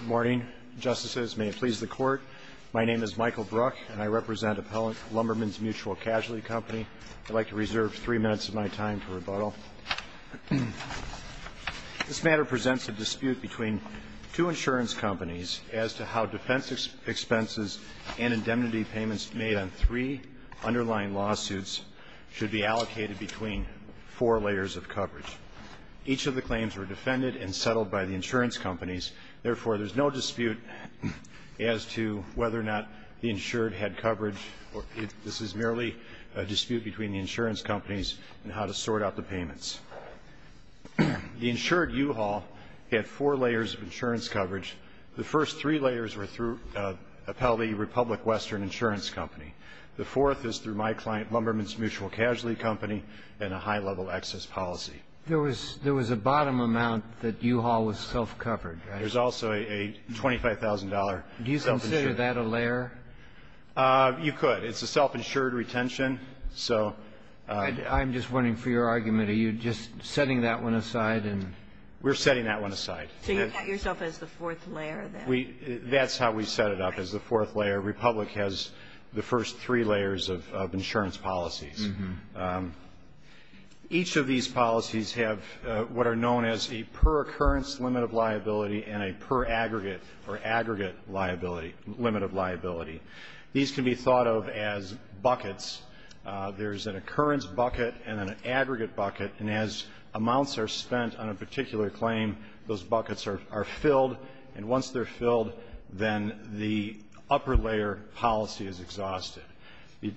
Good morning, Justices. May it please the Court, my name is Michael Bruck and I represent Appellant Lumbermens Mutual Casualty Company. I'd like to reserve three minutes of my time for rebuttal. This matter presents a dispute between two insurance companies as to how defense expenses and indemnity payments made on three underlying lawsuits should be allocated between four layers of coverage. Each of the claims were defended and settled by the insurance companies. Therefore, there's no dispute as to whether or not the insured had coverage. This is merely a dispute between the insurance companies in how to sort out the payments. The insured U-Haul had four layers of insurance coverage. The first three layers were through Appellee Republic Western Insurance Company. The fourth is through my client Lumbermens Mutual Casualty Company and a high-level excess policy. There was a bottom amount that U-Haul was self-covered, right? There's also a $25,000 self-insured. Do you consider that a layer? You could. It's a self-insured retention. So ---- I'm just wondering, for your argument, are you just setting that one aside and ---- We're setting that one aside. So you thought yourself as the fourth layer, then? That's how we set it up, as the fourth layer. Republic has the first three layers of insurance policies. Each of these policies have what are known as a per-occurrence limit of liability and a per-aggregate or aggregate liability ---- limit of liability. These can be thought of as buckets. There's an occurrence bucket and an aggregate bucket. And as amounts are spent on a particular claim, those buckets are filled. And once they're filled, then the upper-layer policy is exhausted.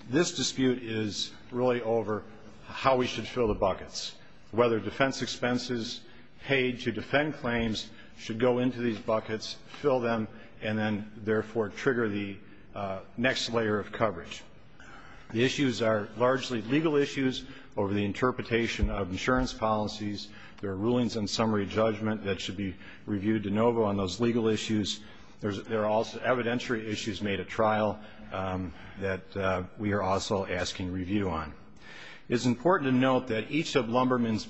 This dispute is really over how we should fill the buckets, whether defense expenses paid to defend claims should go into these buckets, fill them, and then, therefore, trigger the next layer of coverage. The issues are largely legal issues over the interpretation of insurance policies. There are rulings on summary judgment that should be reviewed de it's important to note that each of Lumberman's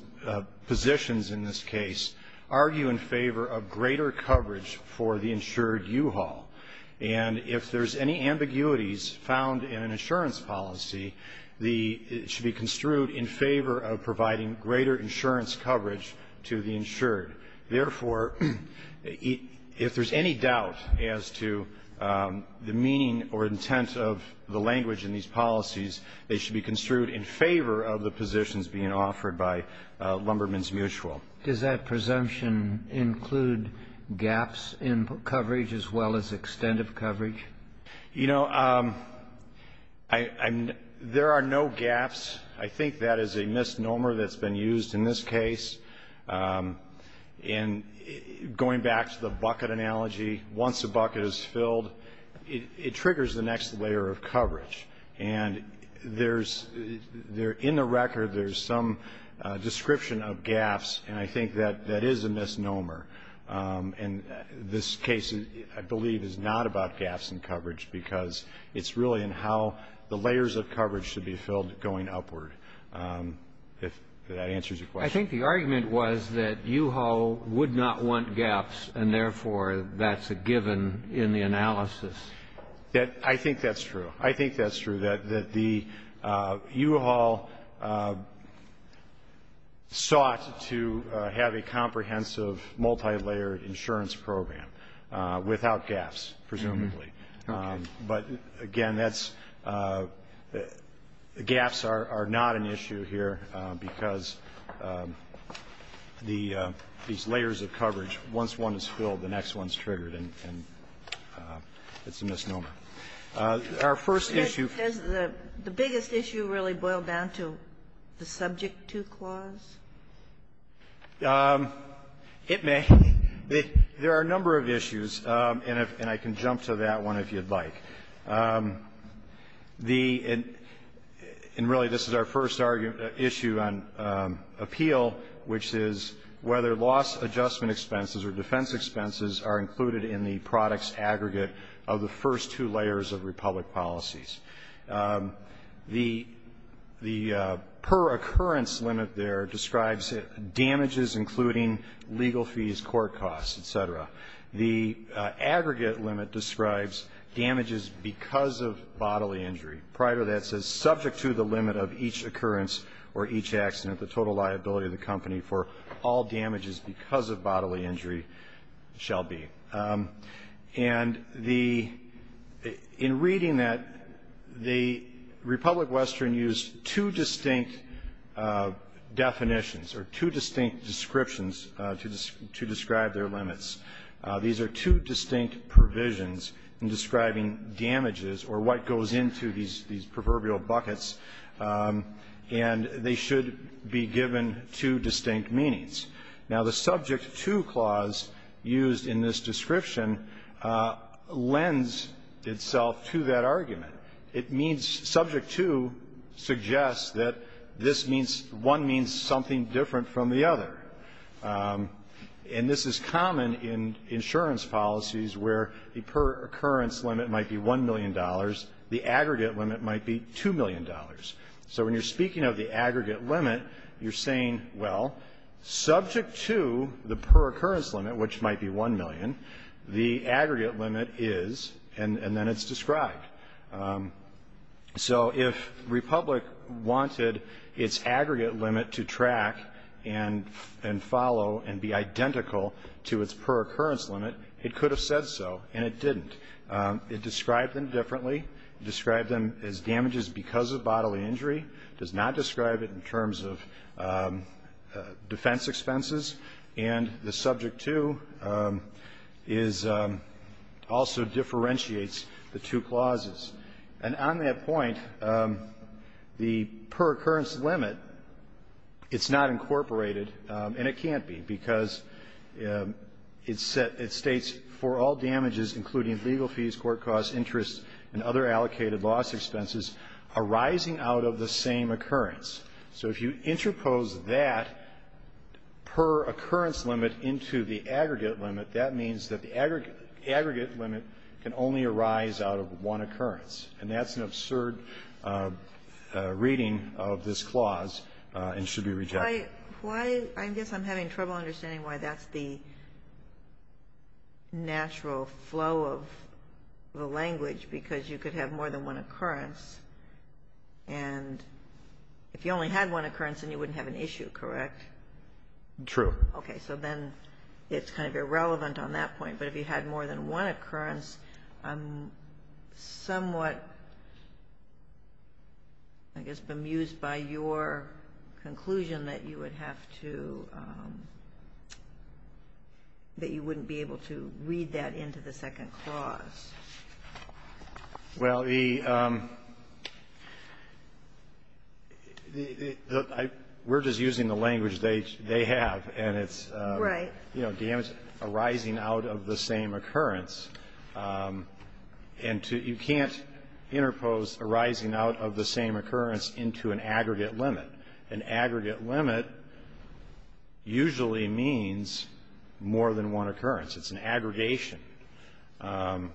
positions in this case argue in favor of greater coverage for the insured U-Haul. And if there's any ambiguities found in an insurance policy, it should be construed in favor of providing greater insurance coverage to the insured. Therefore, if there's any doubt as to the meaning or intent of the language in these policies, they should be construed in favor of the positions being offered by Lumberman's mutual. Does that presumption include gaps in coverage as well as extent of coverage? You know, there are no gaps. I think that is a misnomer that's been used in this case. And going back to the bucket analogy, once a bucket is filled, it triggers the next layer of coverage. And there's there in the record, there's some description of gaps, and I think that that is a misnomer. And this case, I believe, is not about gaps in coverage because it's really in how the layers of coverage should be filled going upward, if that answers your question. I think the argument was that U-Haul would not want gaps, and therefore, that's a given in the analysis. I think that's true. I think that's true, that the U-Haul sought to have a comprehensive, multilayered insurance program without gaps, presumably. But again, gaps are not an issue here because there are no gaps in coverage. There are these layers of coverage. Once one is filled, the next one is triggered, and it's a misnomer. Our first issue Is the biggest issue really boiled down to the subject-to clause? It may. There are a number of issues, and I can jump to that one if you'd like. And really, this is our first issue on appeal, which is whether loss adjustment expenses or defense expenses are included in the products aggregate of the first two layers of Republic policies. The per-occurrence limit there describes damages, including legal fees, court costs, et cetera. The aggregate limit describes damages because of bodily injury. Prior to that, it says, subject to the limit of each occurrence or each accident, the total liability of the company for all damages because of bodily injury shall be. And in reading that, the Republic-Western used two distinct definitions, or two distinct descriptions to describe their limits. These are two distinct provisions in describing damages or what goes into these proverbial buckets, and they should be given two distinct meanings. Now, the subject-to clause used in this description lends itself to that argument. It means subject to suggests that this means one means something different from the other. And this is common in insurance policies where the per-occurrence limit might be $1 million, the aggregate limit might be $2 million. So when you're speaking of the aggregate limit, you're saying, well, subject to the per-occurrence limit, which might be $1 million, the aggregate limit is, and then it's described. So if Republic wanted its aggregate limit to track, and the aggregate limit is $1 million, and follow and be identical to its per-occurrence limit, it could have said so, and it didn't. It described them differently. It described them as damages because of bodily injury. It does not describe it in terms of defense expenses. And the subject-to also differentiates the two clauses. And on that point, the per-occurrence limit, it's not incorporated, and it can't be, because it states, for all damages, including legal fees, court costs, interest, and other allocated loss expenses arising out of the same occurrence. So if you interpose that per-occurrence limit into the aggregate limit, that means that the aggregate limit can only arise out of one occurrence. And that's an absurd reading of this clause. And it should be rejected. Why, I guess I'm having trouble understanding why that's the natural flow of the language, because you could have more than one occurrence, and if you only had one occurrence, then you wouldn't have an issue, correct? True. Okay. So then it's kind of irrelevant on that point, but if you had more than one occurrence, I'm somewhat, I guess, bemused by your conclusion that you would have to – that you wouldn't be able to read that into the second clause. Well, the – we're just using the language they have, and it's not that we're using the language they have, and it's, you know, damage arising out of the same occurrence, and to – you can't interpose arising out of the same occurrence into an aggregate limit. An aggregate limit usually means more than one occurrence. It's an aggregation. And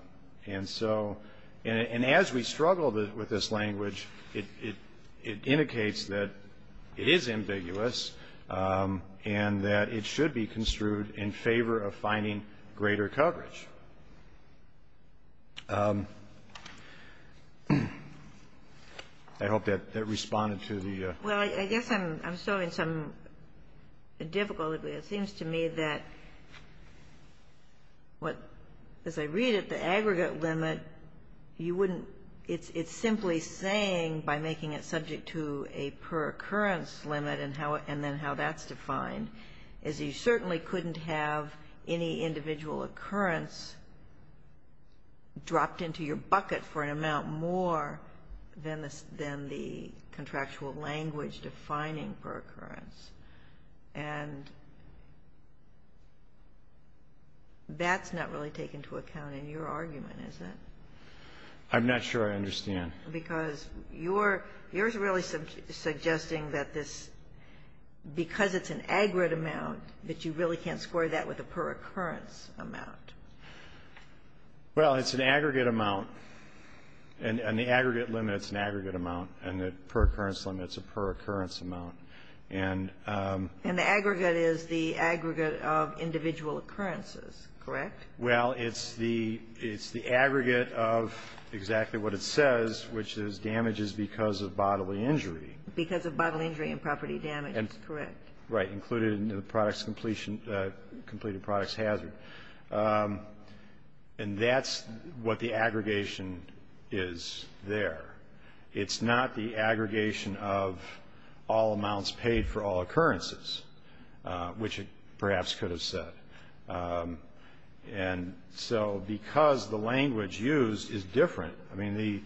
so – and as we struggle with this language, it indicates that it is ambiguous, and that it should be construed in favor of finding greater coverage. I hope that responded to the – Well, I guess I'm solving some difficulty. It seems to me that what – as I read it, the aggregate limit, you wouldn't – it's simply saying, by making it subject to a per-occurrence limit, and then how that's defined, is you certainly couldn't have any individual occurrence dropped into your bucket for an amount more than the contractual language defining per-occurrence. And that's not really taken to account in your argument, is it? I'm not sure I understand. Because it's an aggregate amount, but you really can't square that with a per-occurrence amount. Well, it's an aggregate amount, and the aggregate limit's an aggregate amount, and the per-occurrence limit's a per-occurrence amount. And the aggregate is the aggregate of individual occurrences, correct? Well, it's the aggregate of exactly what it says, which is damage is because of bodily injury. Because of bodily injury and property damage, correct. Right, included in the completed product's hazard. And that's what the aggregation is there. It's not the aggregation of all amounts paid for all occurrences, which it perhaps could have said. And so because the language used is different, I mean, the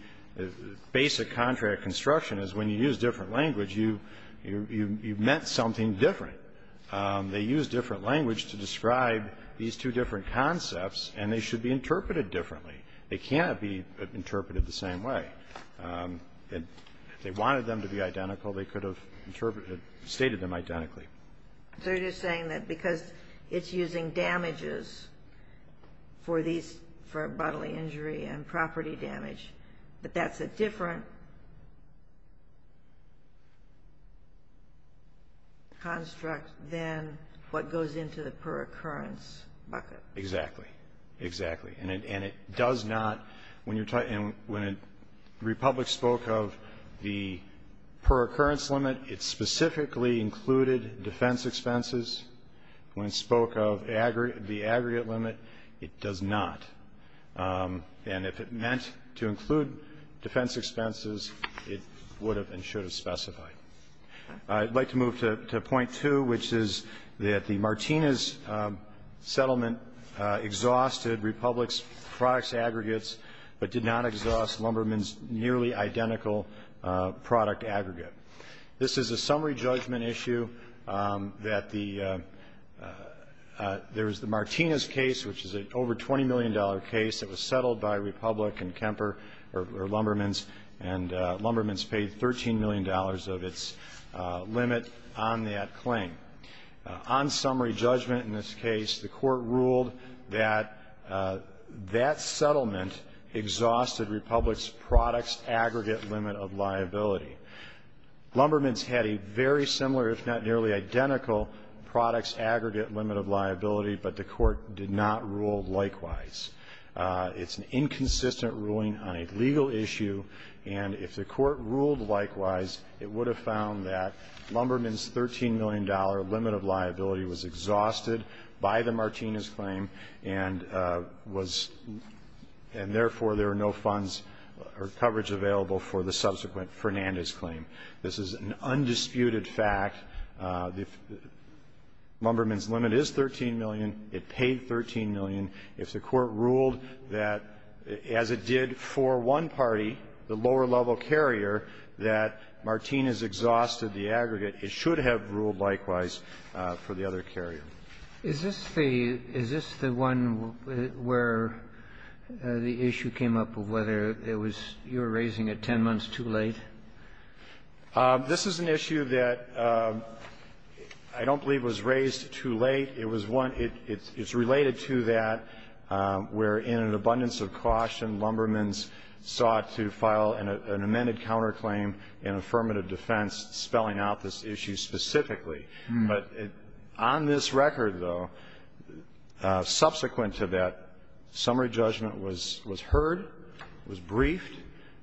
basic contract construction is when you use different language, you've meant something different. They use different language to describe these two different concepts, and they should be interpreted differently. They cannot be interpreted the same way. If they wanted them to be identical, they could have stated them identically. So you're just saying that because it's using damages for bodily injury and property damage, that that's a different construct than what goes into the per-occurrence bucket? Exactly. Exactly. And it does not when you're talking when Republic spoke of the per-occurrence limit, it specifically included defense expenses. When it spoke of the aggregate limit, it does not. And if it meant to include defense expenses, it would have and should have specified. I'd like to move to point two, which is that the Martinez settlement exhausted Republic's product's aggregates, but did not exhaust Lumberman's nearly identical product aggregate. This is a summary judgment issue that the — there was the Martinez case, which is an over $20 million case that was settled by Republic and Kemper or Lumberman's, and Lumberman's paid $13 million of its limit on that claim. On summary judgment in this case, the Court ruled that that settlement exhausted Republic's product's aggregate limit of liability. Lumberman's had a very similar, if not nearly identical, product's aggregate limit of liability, but the Court did not rule likewise. It's an inconsistent ruling on a legal issue, and if the Court ruled likewise, it would have found that Lumberman's $13 million limit of liability was exhausted by the Martinez claim and was — and, therefore, there were no funds or coverage available for the subsequent Fernandez case. This is an undisputed fact. Lumberman's limit is $13 million. It paid $13 million. If the Court ruled that, as it did for one party, the lower-level carrier, that Martinez exhausted the aggregate, it should have ruled likewise for the other carrier. Is this the — is this the one where the issue came up of whether it was — you were raising it 10 months too late? This is an issue that I don't believe was raised too late. It was one — it's related to that where, in an abundance of caution, Lumberman's sought to file an amended counterclaim in affirmative defense, spelling out this issue specifically. But on this record, though, subsequent to that, summary judgment was heard, was briefed,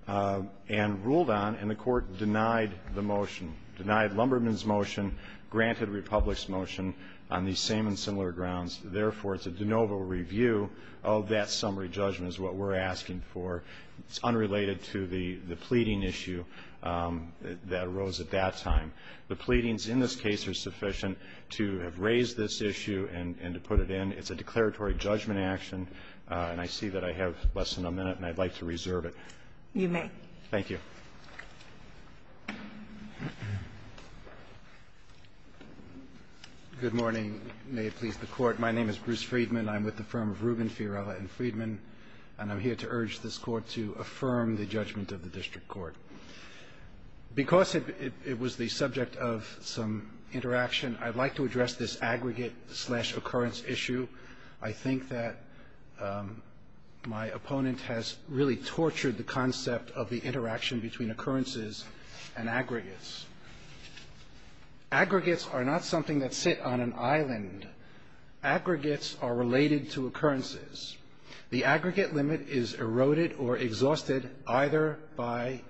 and ruled on, and the Court did not rule likewise. It denied the motion, denied Lumberman's motion, granted Republic's motion on these same and similar grounds. Therefore, it's a de novo review of that summary judgment is what we're asking for. It's unrelated to the pleading issue that arose at that time. The pleadings in this case are sufficient to have raised this issue and to put it in. It's a declaratory judgment action, and I see that I have less than a minute, and I'd like to reserve it. You may. Thank you. Good morning. May it please the Court. My name is Bruce Friedman. I'm with the firm of Rubin, Fiorella, and Friedman, and I'm here to urge this Court to affirm the judgment of the district court. Because it was the subject of some interaction, I'd like to address this aggregate-slash-occurrence issue. I think that my opponent has really tortured the concept of the interaction between occurrences and aggregates. Aggregates are not something that sit on an island. Aggregates are related to occurrences. The aggregate limit is eroded or exhausted either by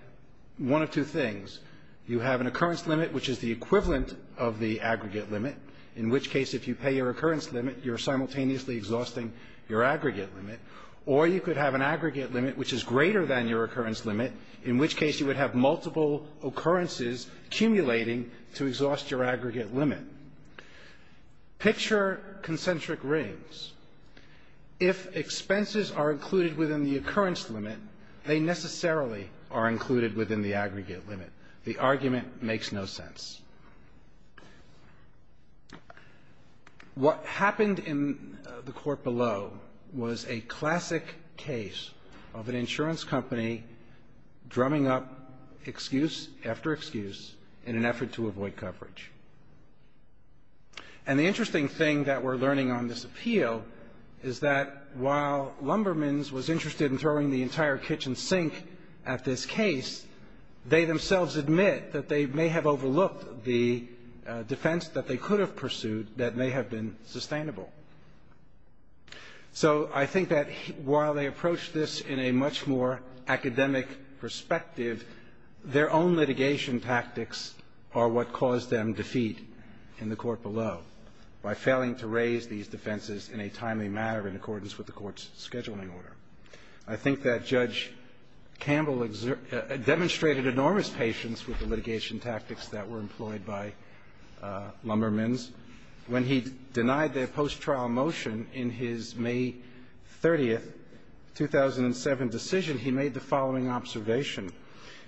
one of two things. You have an occurrence limit, which is the equivalent of the aggregate limit, in which case if you pay your occurrence limit, you're simultaneously exhausting your aggregate limit. Or you could have an aggregate limit which is greater than your occurrence limit, in which case you would have multiple occurrences accumulating to exhaust your aggregate limit. Picture concentric rings. If expenses are included within the occurrence limit, they necessarily are included within the aggregate limit. The argument makes no sense. What happened in the Court below was a classic case of an insurance company drumming up excuse after excuse in an effort to avoid coverage. And the interesting thing that we're learning on this appeal is that while Lumbermans was interested in throwing the entire kitchen sink at this case, they themselves admit that they may have overlooked the defense that they could have pursued that may have been sustainable. So I think that while they approached this in a much more academic perspective, their own litigation tactics are what caused them defeat in the Court below by failing to raise these defenses in a timely manner in accordance with the Court's scheduling order. I think that Judge Campbell demonstrated enormous patience with the litigation tactics that were employed by Lumbermans. When he denied their post-trial motion in his May 30, 2007, decision, he made the following observation.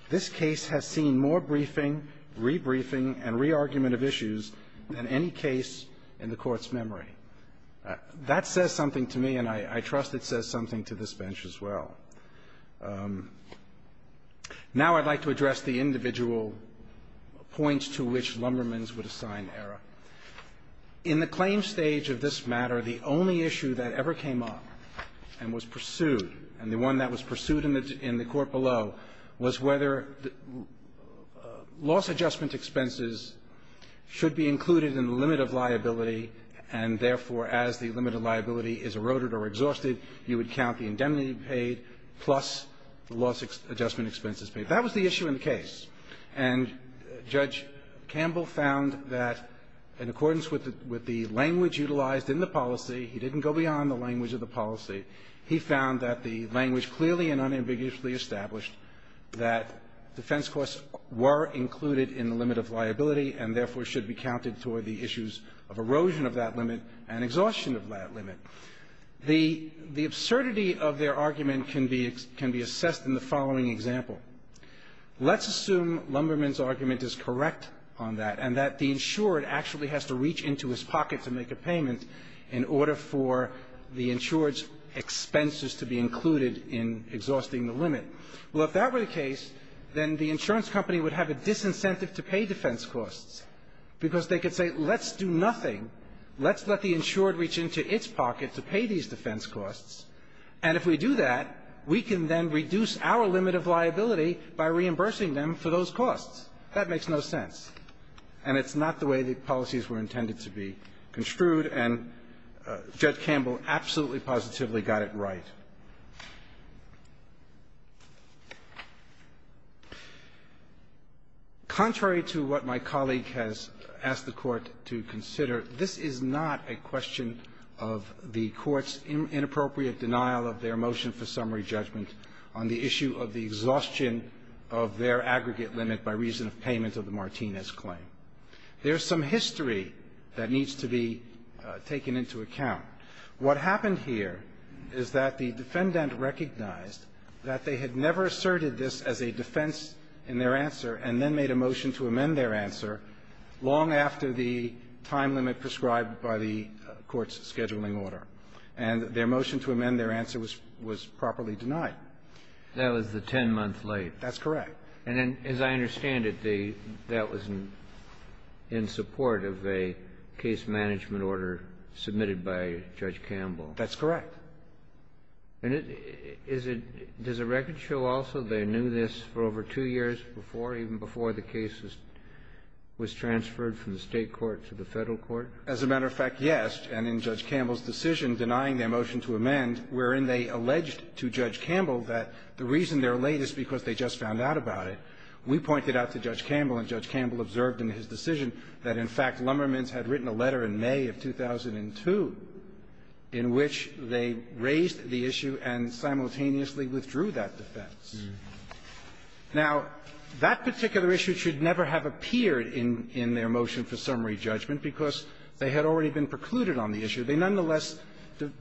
This case has seen more briefing, rebriefing, and re-argument of issues than any case in the Court's memory. That says something to me, and I trust it says something to this bench as well. Now I'd like to address the individual points to which Lumbermans would assign error. In the claim stage of this matter, the only issue that ever came up and was pursued and the one that was pursued in the Court below was whether loss adjustment expenses should be included in the limit of liability, and therefore as the limit of liability is eroded or exhausted, you would count the indemnity paid plus the loss adjustment expenses paid. That was the issue in the case, and Judge Campbell found that in accordance with the language utilized in the policy, he didn't go beyond the language of the policy, he found that the language clearly and unambiguously established that defense costs were included in the limit of liability and therefore should be counted toward the issues of erosion of that limit and exhaustion of that limit. The absurdity of their argument can be assessed in the following example. Let's assume Lumbermans' argument is correct on that, and that the insured actually has to reach into his pocket to make a payment in order for the insured's expenses to be included in exhausting the limit. Well, if that were the case, then the insurance company would have a disincentive to pay defense costs because they could say let's do nothing, let's let the insured reach into its pocket to pay these defense costs, and if we do that, we can then reduce our limit of liability by reimbursing them for those costs. That makes no sense. And it's not the way the policies were intended to be construed. And Judge Campbell absolutely positively got it right. Contrary to what my colleague has asked the Court to consider, this is not a question of the Court's inappropriate denial of their motion for summary judgment on the issue of the exhaustion of their aggregate limit by reason of payment of the Martinez claim. There's some history that needs to be taken into account. What happened here is that the defendant recognized that they had never asserted this as a defense in their answer and then made a motion to amend their answer long after the time limit prescribed by the Court's scheduling order. And their motion to amend their answer was properly denied. That was the 10 months late. That's correct. And then, as I understand it, the that was in support of a case management order submitted by Judge Campbell. That's correct. And is it does the record show also they knew this for over two years before, even before the case was transferred from the State court to the Federal court? As a matter of fact, yes. And in Judge Campbell's decision denying their motion to amend, wherein they alleged to Judge Campbell that the reason they're late is because they just found out about it, we pointed out to Judge Campbell, and Judge Campbell observed in his decision that, in fact, Lumbermans had written a letter in May of 2002 in which they raised the issue and simultaneously withdrew that defense. Now, that particular issue should never have appeared in their motion for summary judgment because they had already been precluded on the issue. They nonetheless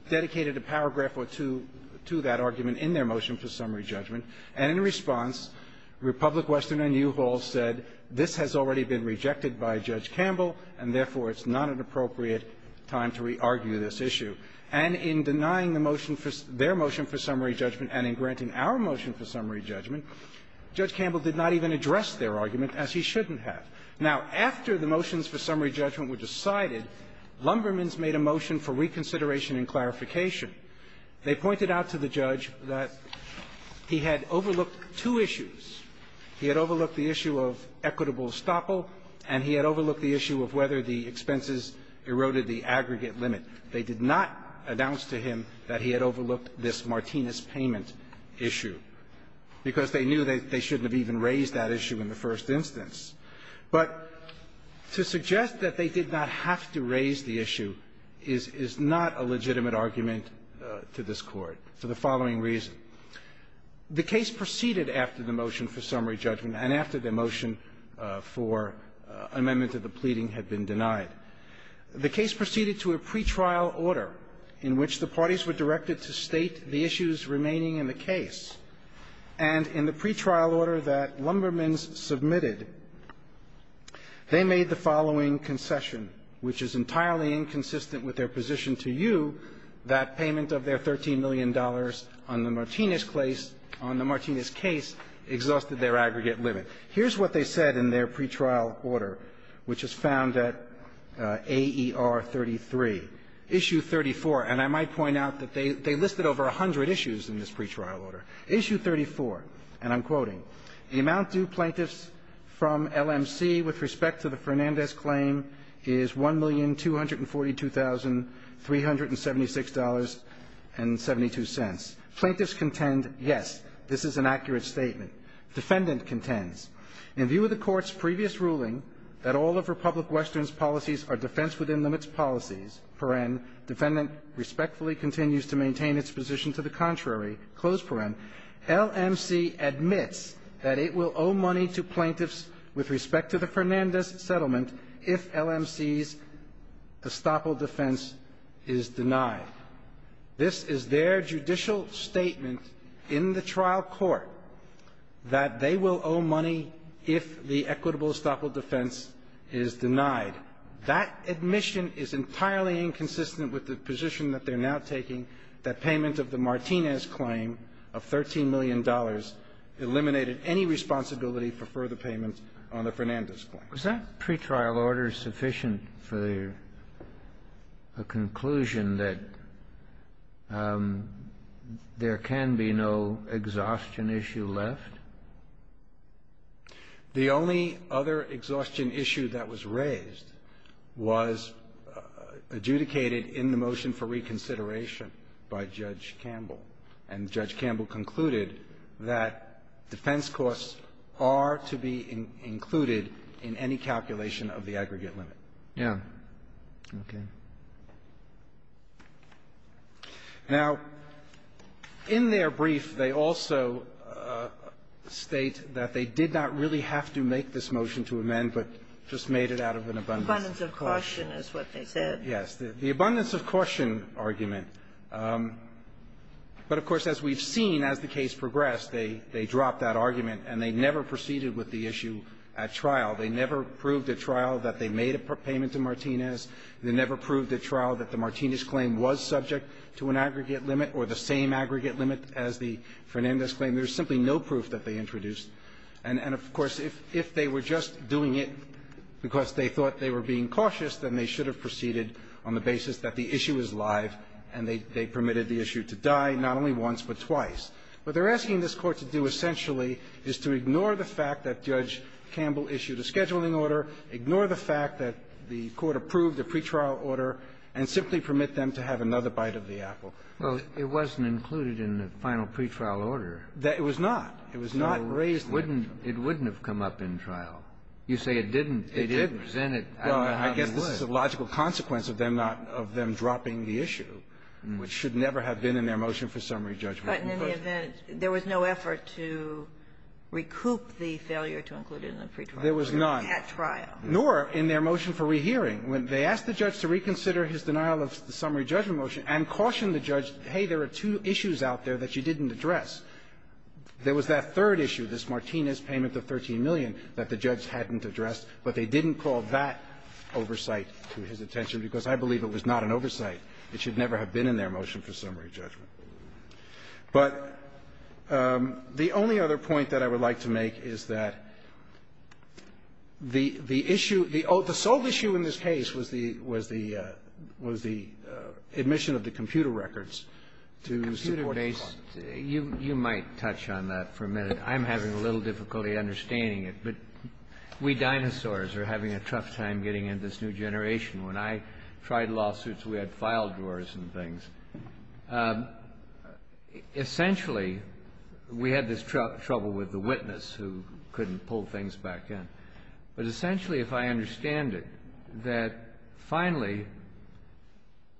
dedicated a paragraph or two to that argument in their motion for summary judgment, and in response, Republic Western and U-Haul said, this has already been rejected by Judge Campbell, and therefore, it's not an appropriate time to re-argue this issue. And in denying the motion for their motion for summary judgment and in granting our motion for summary judgment, Judge Campbell did not even address their argument as he shouldn't have. Now, after the motions for summary judgment were decided, Lumbermans made a motion for reconsideration and clarification. They pointed out to the judge that he had overlooked two issues. He had overlooked the issue of equitable estoppel, and he had overlooked the issue of whether the expenses eroded the aggregate limit. They did not announce to him that he had overlooked this Martinez payment issue because they knew they shouldn't have even raised that issue in the first instance. But to suggest that they did not have to raise the issue is not a legitimate argument to this Court for the following reason. The case proceeded after the motion for summary judgment and after their motion for amendment to the pleading had been denied. The case proceeded to a pretrial order in which the parties were directed to state the issues remaining in the case. And in the pretrial order that Lumbermans submitted, they made the following concession, which is entirely inconsistent with their position to you, that payment of their $13 million on the Martinez case exhausted their aggregate limit. Here's what they said in their pretrial order, which is found at AER 33. Issue 34, and I might point out that they listed over 100 issues in this pretrial order. Issue 34, and I'm quoting, the amount due plaintiffs from LMC with respect to the Fernandez claim is $1,242,376.72. Plaintiffs contend, yes, this is an accurate statement. Defendant contends, in view of the court's previous ruling that all of Republic Western's policies are defense within limits policies, paren, defendant respectfully continues to maintain its position to the contrary, close paren. LMC admits that it will owe money to plaintiffs with respect to the Fernandez settlement if LMC's estoppel defense is denied. This is their judicial statement in the trial court that they will owe money if the equitable estoppel defense is denied. That admission is entirely inconsistent with the position that they're now taking, that payment of the Martinez claim of $13 million eliminated any responsibility for further payment on the Fernandez claim. Kennedy. Was that pretrial order sufficient for the conclusion that there can be no exhaustion issue left? The only other exhaustion issue that was raised was adjudicated in the motion for reconsideration by Judge Campbell. And Judge Campbell concluded that defense costs are to be included in any calculation of the aggregate limit. Yeah. Okay. Now, in their brief, they also state that they did not really have to make this motion to amend, but just made it out of an abundance of caution. Abundance of caution is what they said. Yes. The abundance of caution argument. But, of course, as we've seen as the case progressed, they dropped that argument, and they never proceeded with the issue at trial. They never proved at trial that they made a payment to Martinez. They never proved at trial that the Martinez claim was subject to an aggregate limit or the same aggregate limit as the Fernandez claim. There's simply no proof that they introduced. And, of course, if they were just doing it because they thought they were being cautious, then they should have proceeded on the basis that the issue is live, and they permitted the issue to die not only once, but twice. What they're asking this Court to do, essentially, is to ignore the fact that Judge And simply permit them to have another bite of the apple. Well, it wasn't included in the final pretrial order. It was not. It was not raised. It wouldn't have come up in trial. You say it didn't. It didn't. Well, I guess this is a logical consequence of them not of them dropping the issue, which should never have been in their motion for summary judgment. But in the event, there was no effort to recoup the failure to include it in the pretrial order. There was not. At trial. Nor in their motion for rehearing. When they asked the judge to reconsider his denial of the summary judgment motion and cautioned the judge, hey, there are two issues out there that you didn't address. There was that third issue, this Martinez payment of $13 million that the judge hadn't addressed, but they didn't call that oversight to his attention because I believe it was not an oversight. It should never have been in their motion for summary judgment. But the only other point that I would like to make is that the issue, the sole issue in this case was the admission of the computer records to support the claim. You might touch on that for a minute. I'm having a little difficulty understanding it. But we dinosaurs are having a tough time getting into this new generation. When I tried lawsuits, we had file drawers and things. Essentially, we had this trouble with the witness who couldn't pull things back in. But essentially, if I understand it, that finally,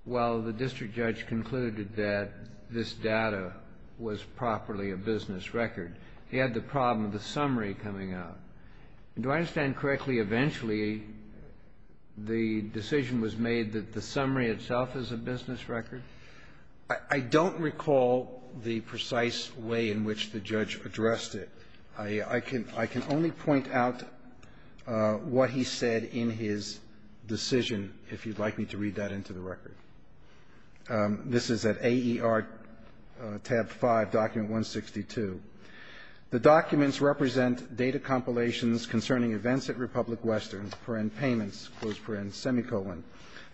while the district judge concluded that this data was properly a business record, he had the problem of the summary coming out. Do I understand correctly, eventually, the decision was made that the summary itself is a business record? I don't recall the precise way in which the judge addressed it. I can only point out what he said in his decision, if you'd like me to read that into the record. This is at AER tab 5, document 162. The documents represent data compilations concerning events at Republic Western, per-end payments, close per-end, semicolon.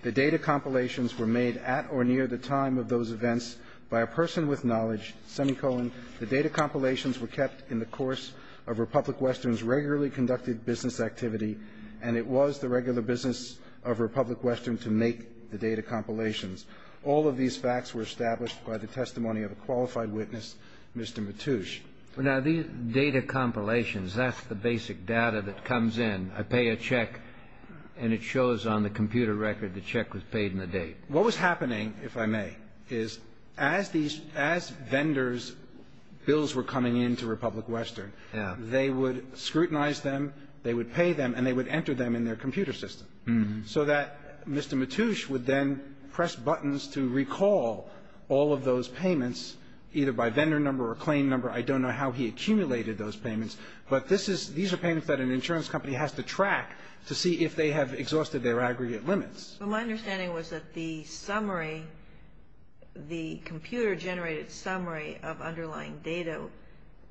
The data compilations were made at or near the time of those events by a person with knowledge, semicolon. The data compilations were kept in the course of Republic Western's regularly conducted business activity, and it was the regular business of Republic Western to make the data compilations. All of these facts were established by the testimony of a qualified witness, Mr. Matouche. Well, now, these data compilations, that's the basic data that comes in. I pay a check, and it shows on the computer record the check was paid in the date. What was happening, if I may, is as vendors' bills were coming in to Republic Western, they would scrutinize them, they would pay them, and they would enter them in their computer system so that Mr. Matouche would then press buttons to recall all of those payments, either by vendor number or claim number. I don't know how he accumulated those payments, but this is these are payments that an insurance company has to track to see if they have exhausted their aggregate limits. Well, my understanding was that the summary, the computer-generated summary of underlying data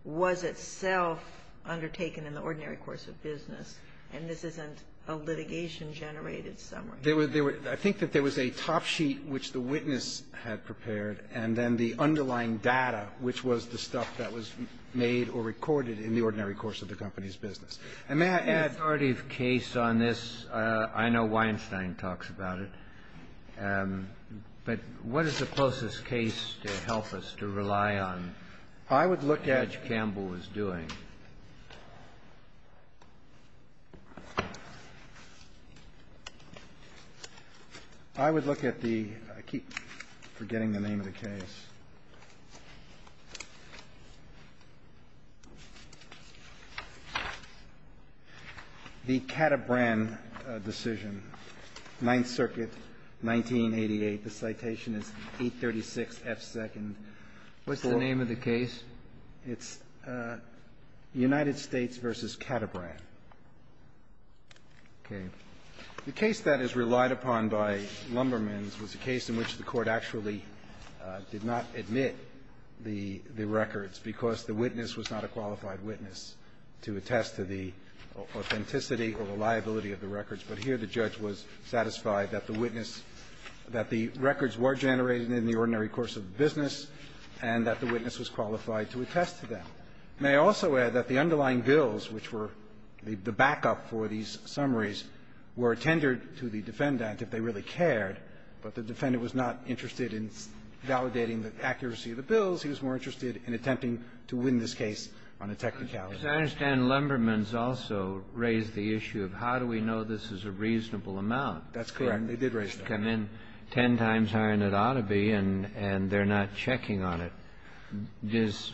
was itself undertaken in the ordinary course of business, and this isn't a litigation-generated summary. I think that there was a top sheet which the witness had prepared, and then the underlying data, which was the stuff that was made or recorded in the ordinary course of the company's business. And may I add to that? The authority of case on this, I know Weinstein talks about it, but what is the closest case to help us to rely on what Judge Campbell was doing? I would look at the – I keep forgetting the name of the case. The Caterbran decision, Ninth Circuit, 1988. The citation is 836 F. Second. It's United States v. Caterbran. Okay. The case that is relied upon by Lumbermans was a case in which the Court actually did not admit the records because the witness was not a qualified witness to attest to the authenticity or reliability of the records. But here the judge was satisfied that the witness – that the records were generated in the ordinary course of the business and that the witness was qualified to attest to them. May I also add that the underlying bills, which were the backup for these summaries, were tendered to the defendant if they really cared, but the defendant was not interested in validating the accuracy of the bills. He was more interested in attempting to win this case on a technicality. As I understand, Lumbermans also raised the issue of how do we know this is a reasonable amount? That's correct. They did raise that. I mean, 10 times higher than it ought to be, and they're not checking on it. Does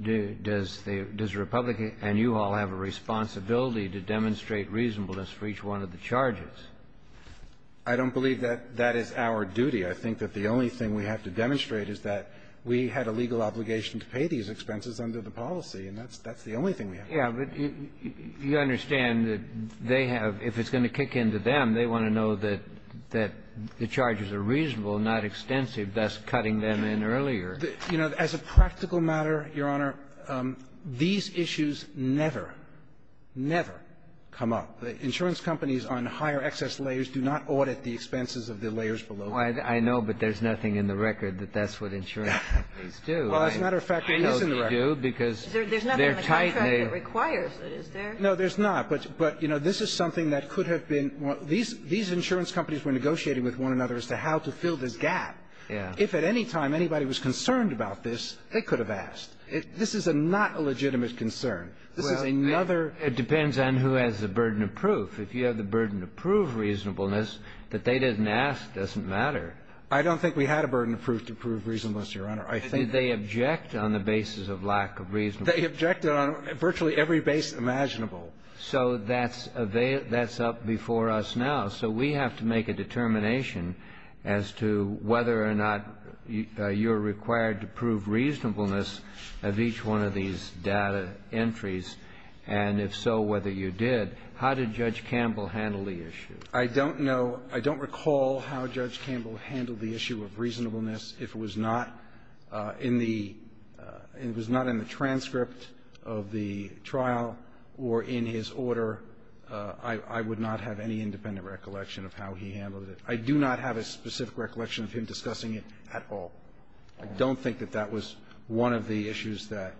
the – does the Republican – and you all have a responsibility to demonstrate reasonableness for each one of the charges. I don't believe that that is our duty. I think that the only thing we have to demonstrate is that we had a legal obligation to pay these expenses under the policy, and that's the only thing we have to pay. But you understand that they have – if it's going to kick into them, they want to know that the charges are reasonable, not extensive, thus cutting them in earlier. You know, as a practical matter, Your Honor, these issues never, never come up. Insurance companies on higher excess layers do not audit the expenses of the layers below them. I know, but there's nothing in the record that that's what insurance companies do. Well, as a matter of fact, it is in the record. Well, they do, because they're tight and they are – There's nothing in the contract that requires it, is there? No, there's not. But, you know, this is something that could have been – these insurance companies were negotiating with one another as to how to fill this gap. Yeah. If at any time anybody was concerned about this, they could have asked. This is not a legitimate concern. This is another – Well, it depends on who has the burden of proof. If you have the burden of proof reasonableness, that they didn't ask doesn't matter. I don't think we had a burden of proof to prove reasonableness, Your Honor. I think that – Did they object on the basis of lack of reasonableness? They objected on virtually every base imaginable. So that's up before us now. So we have to make a determination as to whether or not you're required to prove reasonableness of each one of these data entries, and if so, whether you did. How did Judge Campbell handle the issue? I don't know. I don't recall how Judge Campbell handled the issue of reasonableness. If it was not in the – if it was not in the transcript of the trial or in his order, I would not have any independent recollection of how he handled it. I do not have a specific recollection of him discussing it at all. I don't think that that was one of the issues that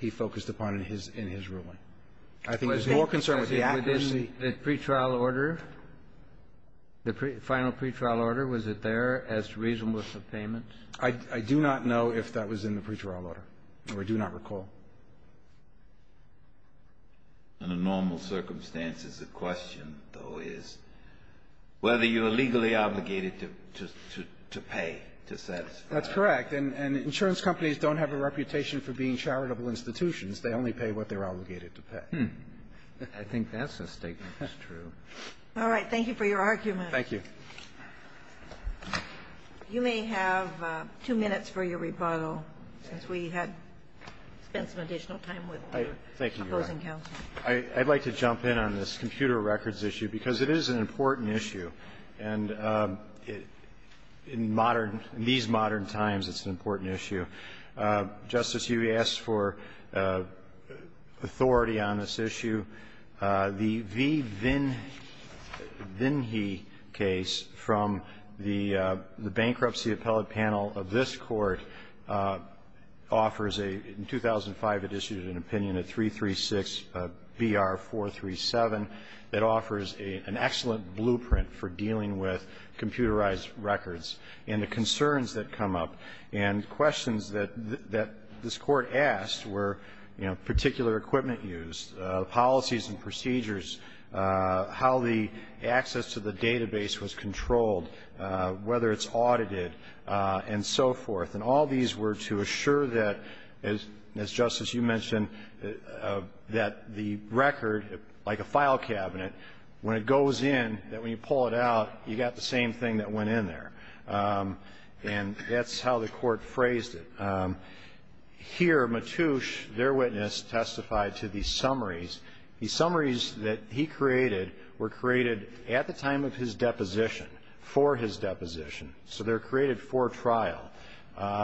he focused upon in his ruling. I think there's more concern with the accuracy. In the pretrial order, the final pretrial order, was it there as reasonableness of payment? I do not know if that was in the pretrial order, or I do not recall. Under normal circumstances, the question, though, is whether you are legally obligated to pay, to satisfy. That's correct. And insurance companies don't have a reputation for being charitable institutions. They only pay what they're obligated to pay. I think that's a statement that's true. All right. Thank you for your argument. Thank you. You may have two minutes for your rebuttal, since we had spent some additional time with the opposing counsel. I'd like to jump in on this computer records issue, because it is an important issue. And in modern – in these modern times, it's an important issue. Justice, you asked for authority on this issue. The V. Vinhe case from the bankruptcy appellate panel of this Court offers a – in 2005, it issued an opinion, a 336 BR 437, that offers an excellent blueprint for dealing with computerized records and the concerns that come up and questions that this Court asked were, you know, particular equipment used, policies and procedures, how the access to the database was controlled, whether it's audited, and so forth. And all these were to assure that, as Justice, you mentioned, that the record, like a file cabinet, when it goes in, that when you pull it out, you got the same thing that went in there. And that's how the Court phrased it. Here, Matouche, their witness, testified to these summaries. These summaries that he created were created at the time of his deposition, for his deposition. So they're created for trial.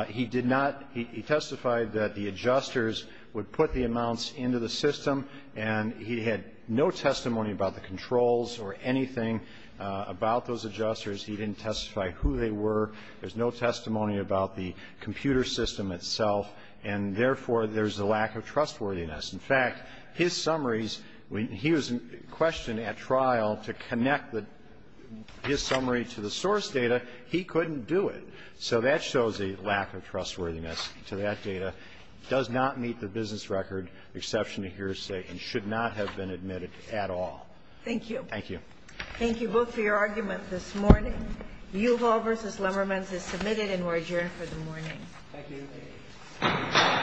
He did not – he testified that the adjusters would put the amounts into the system, and he had no testimony about the controls or anything about those adjusters. He didn't testify who they were. There's no testimony about the computer system itself. And therefore, there's a lack of trustworthiness. In fact, his summaries – when he was questioned at trial to connect his summary to the source data, he couldn't do it. So that shows a lack of trustworthiness to that data. It does not meet the business record, exception to hearsay, and should not have been admitted at all. Thank you. Thank you. Thank you both for your argument this morning. The view of all versus Lemberman is submitted, and we're adjourned for the morning. Thank you.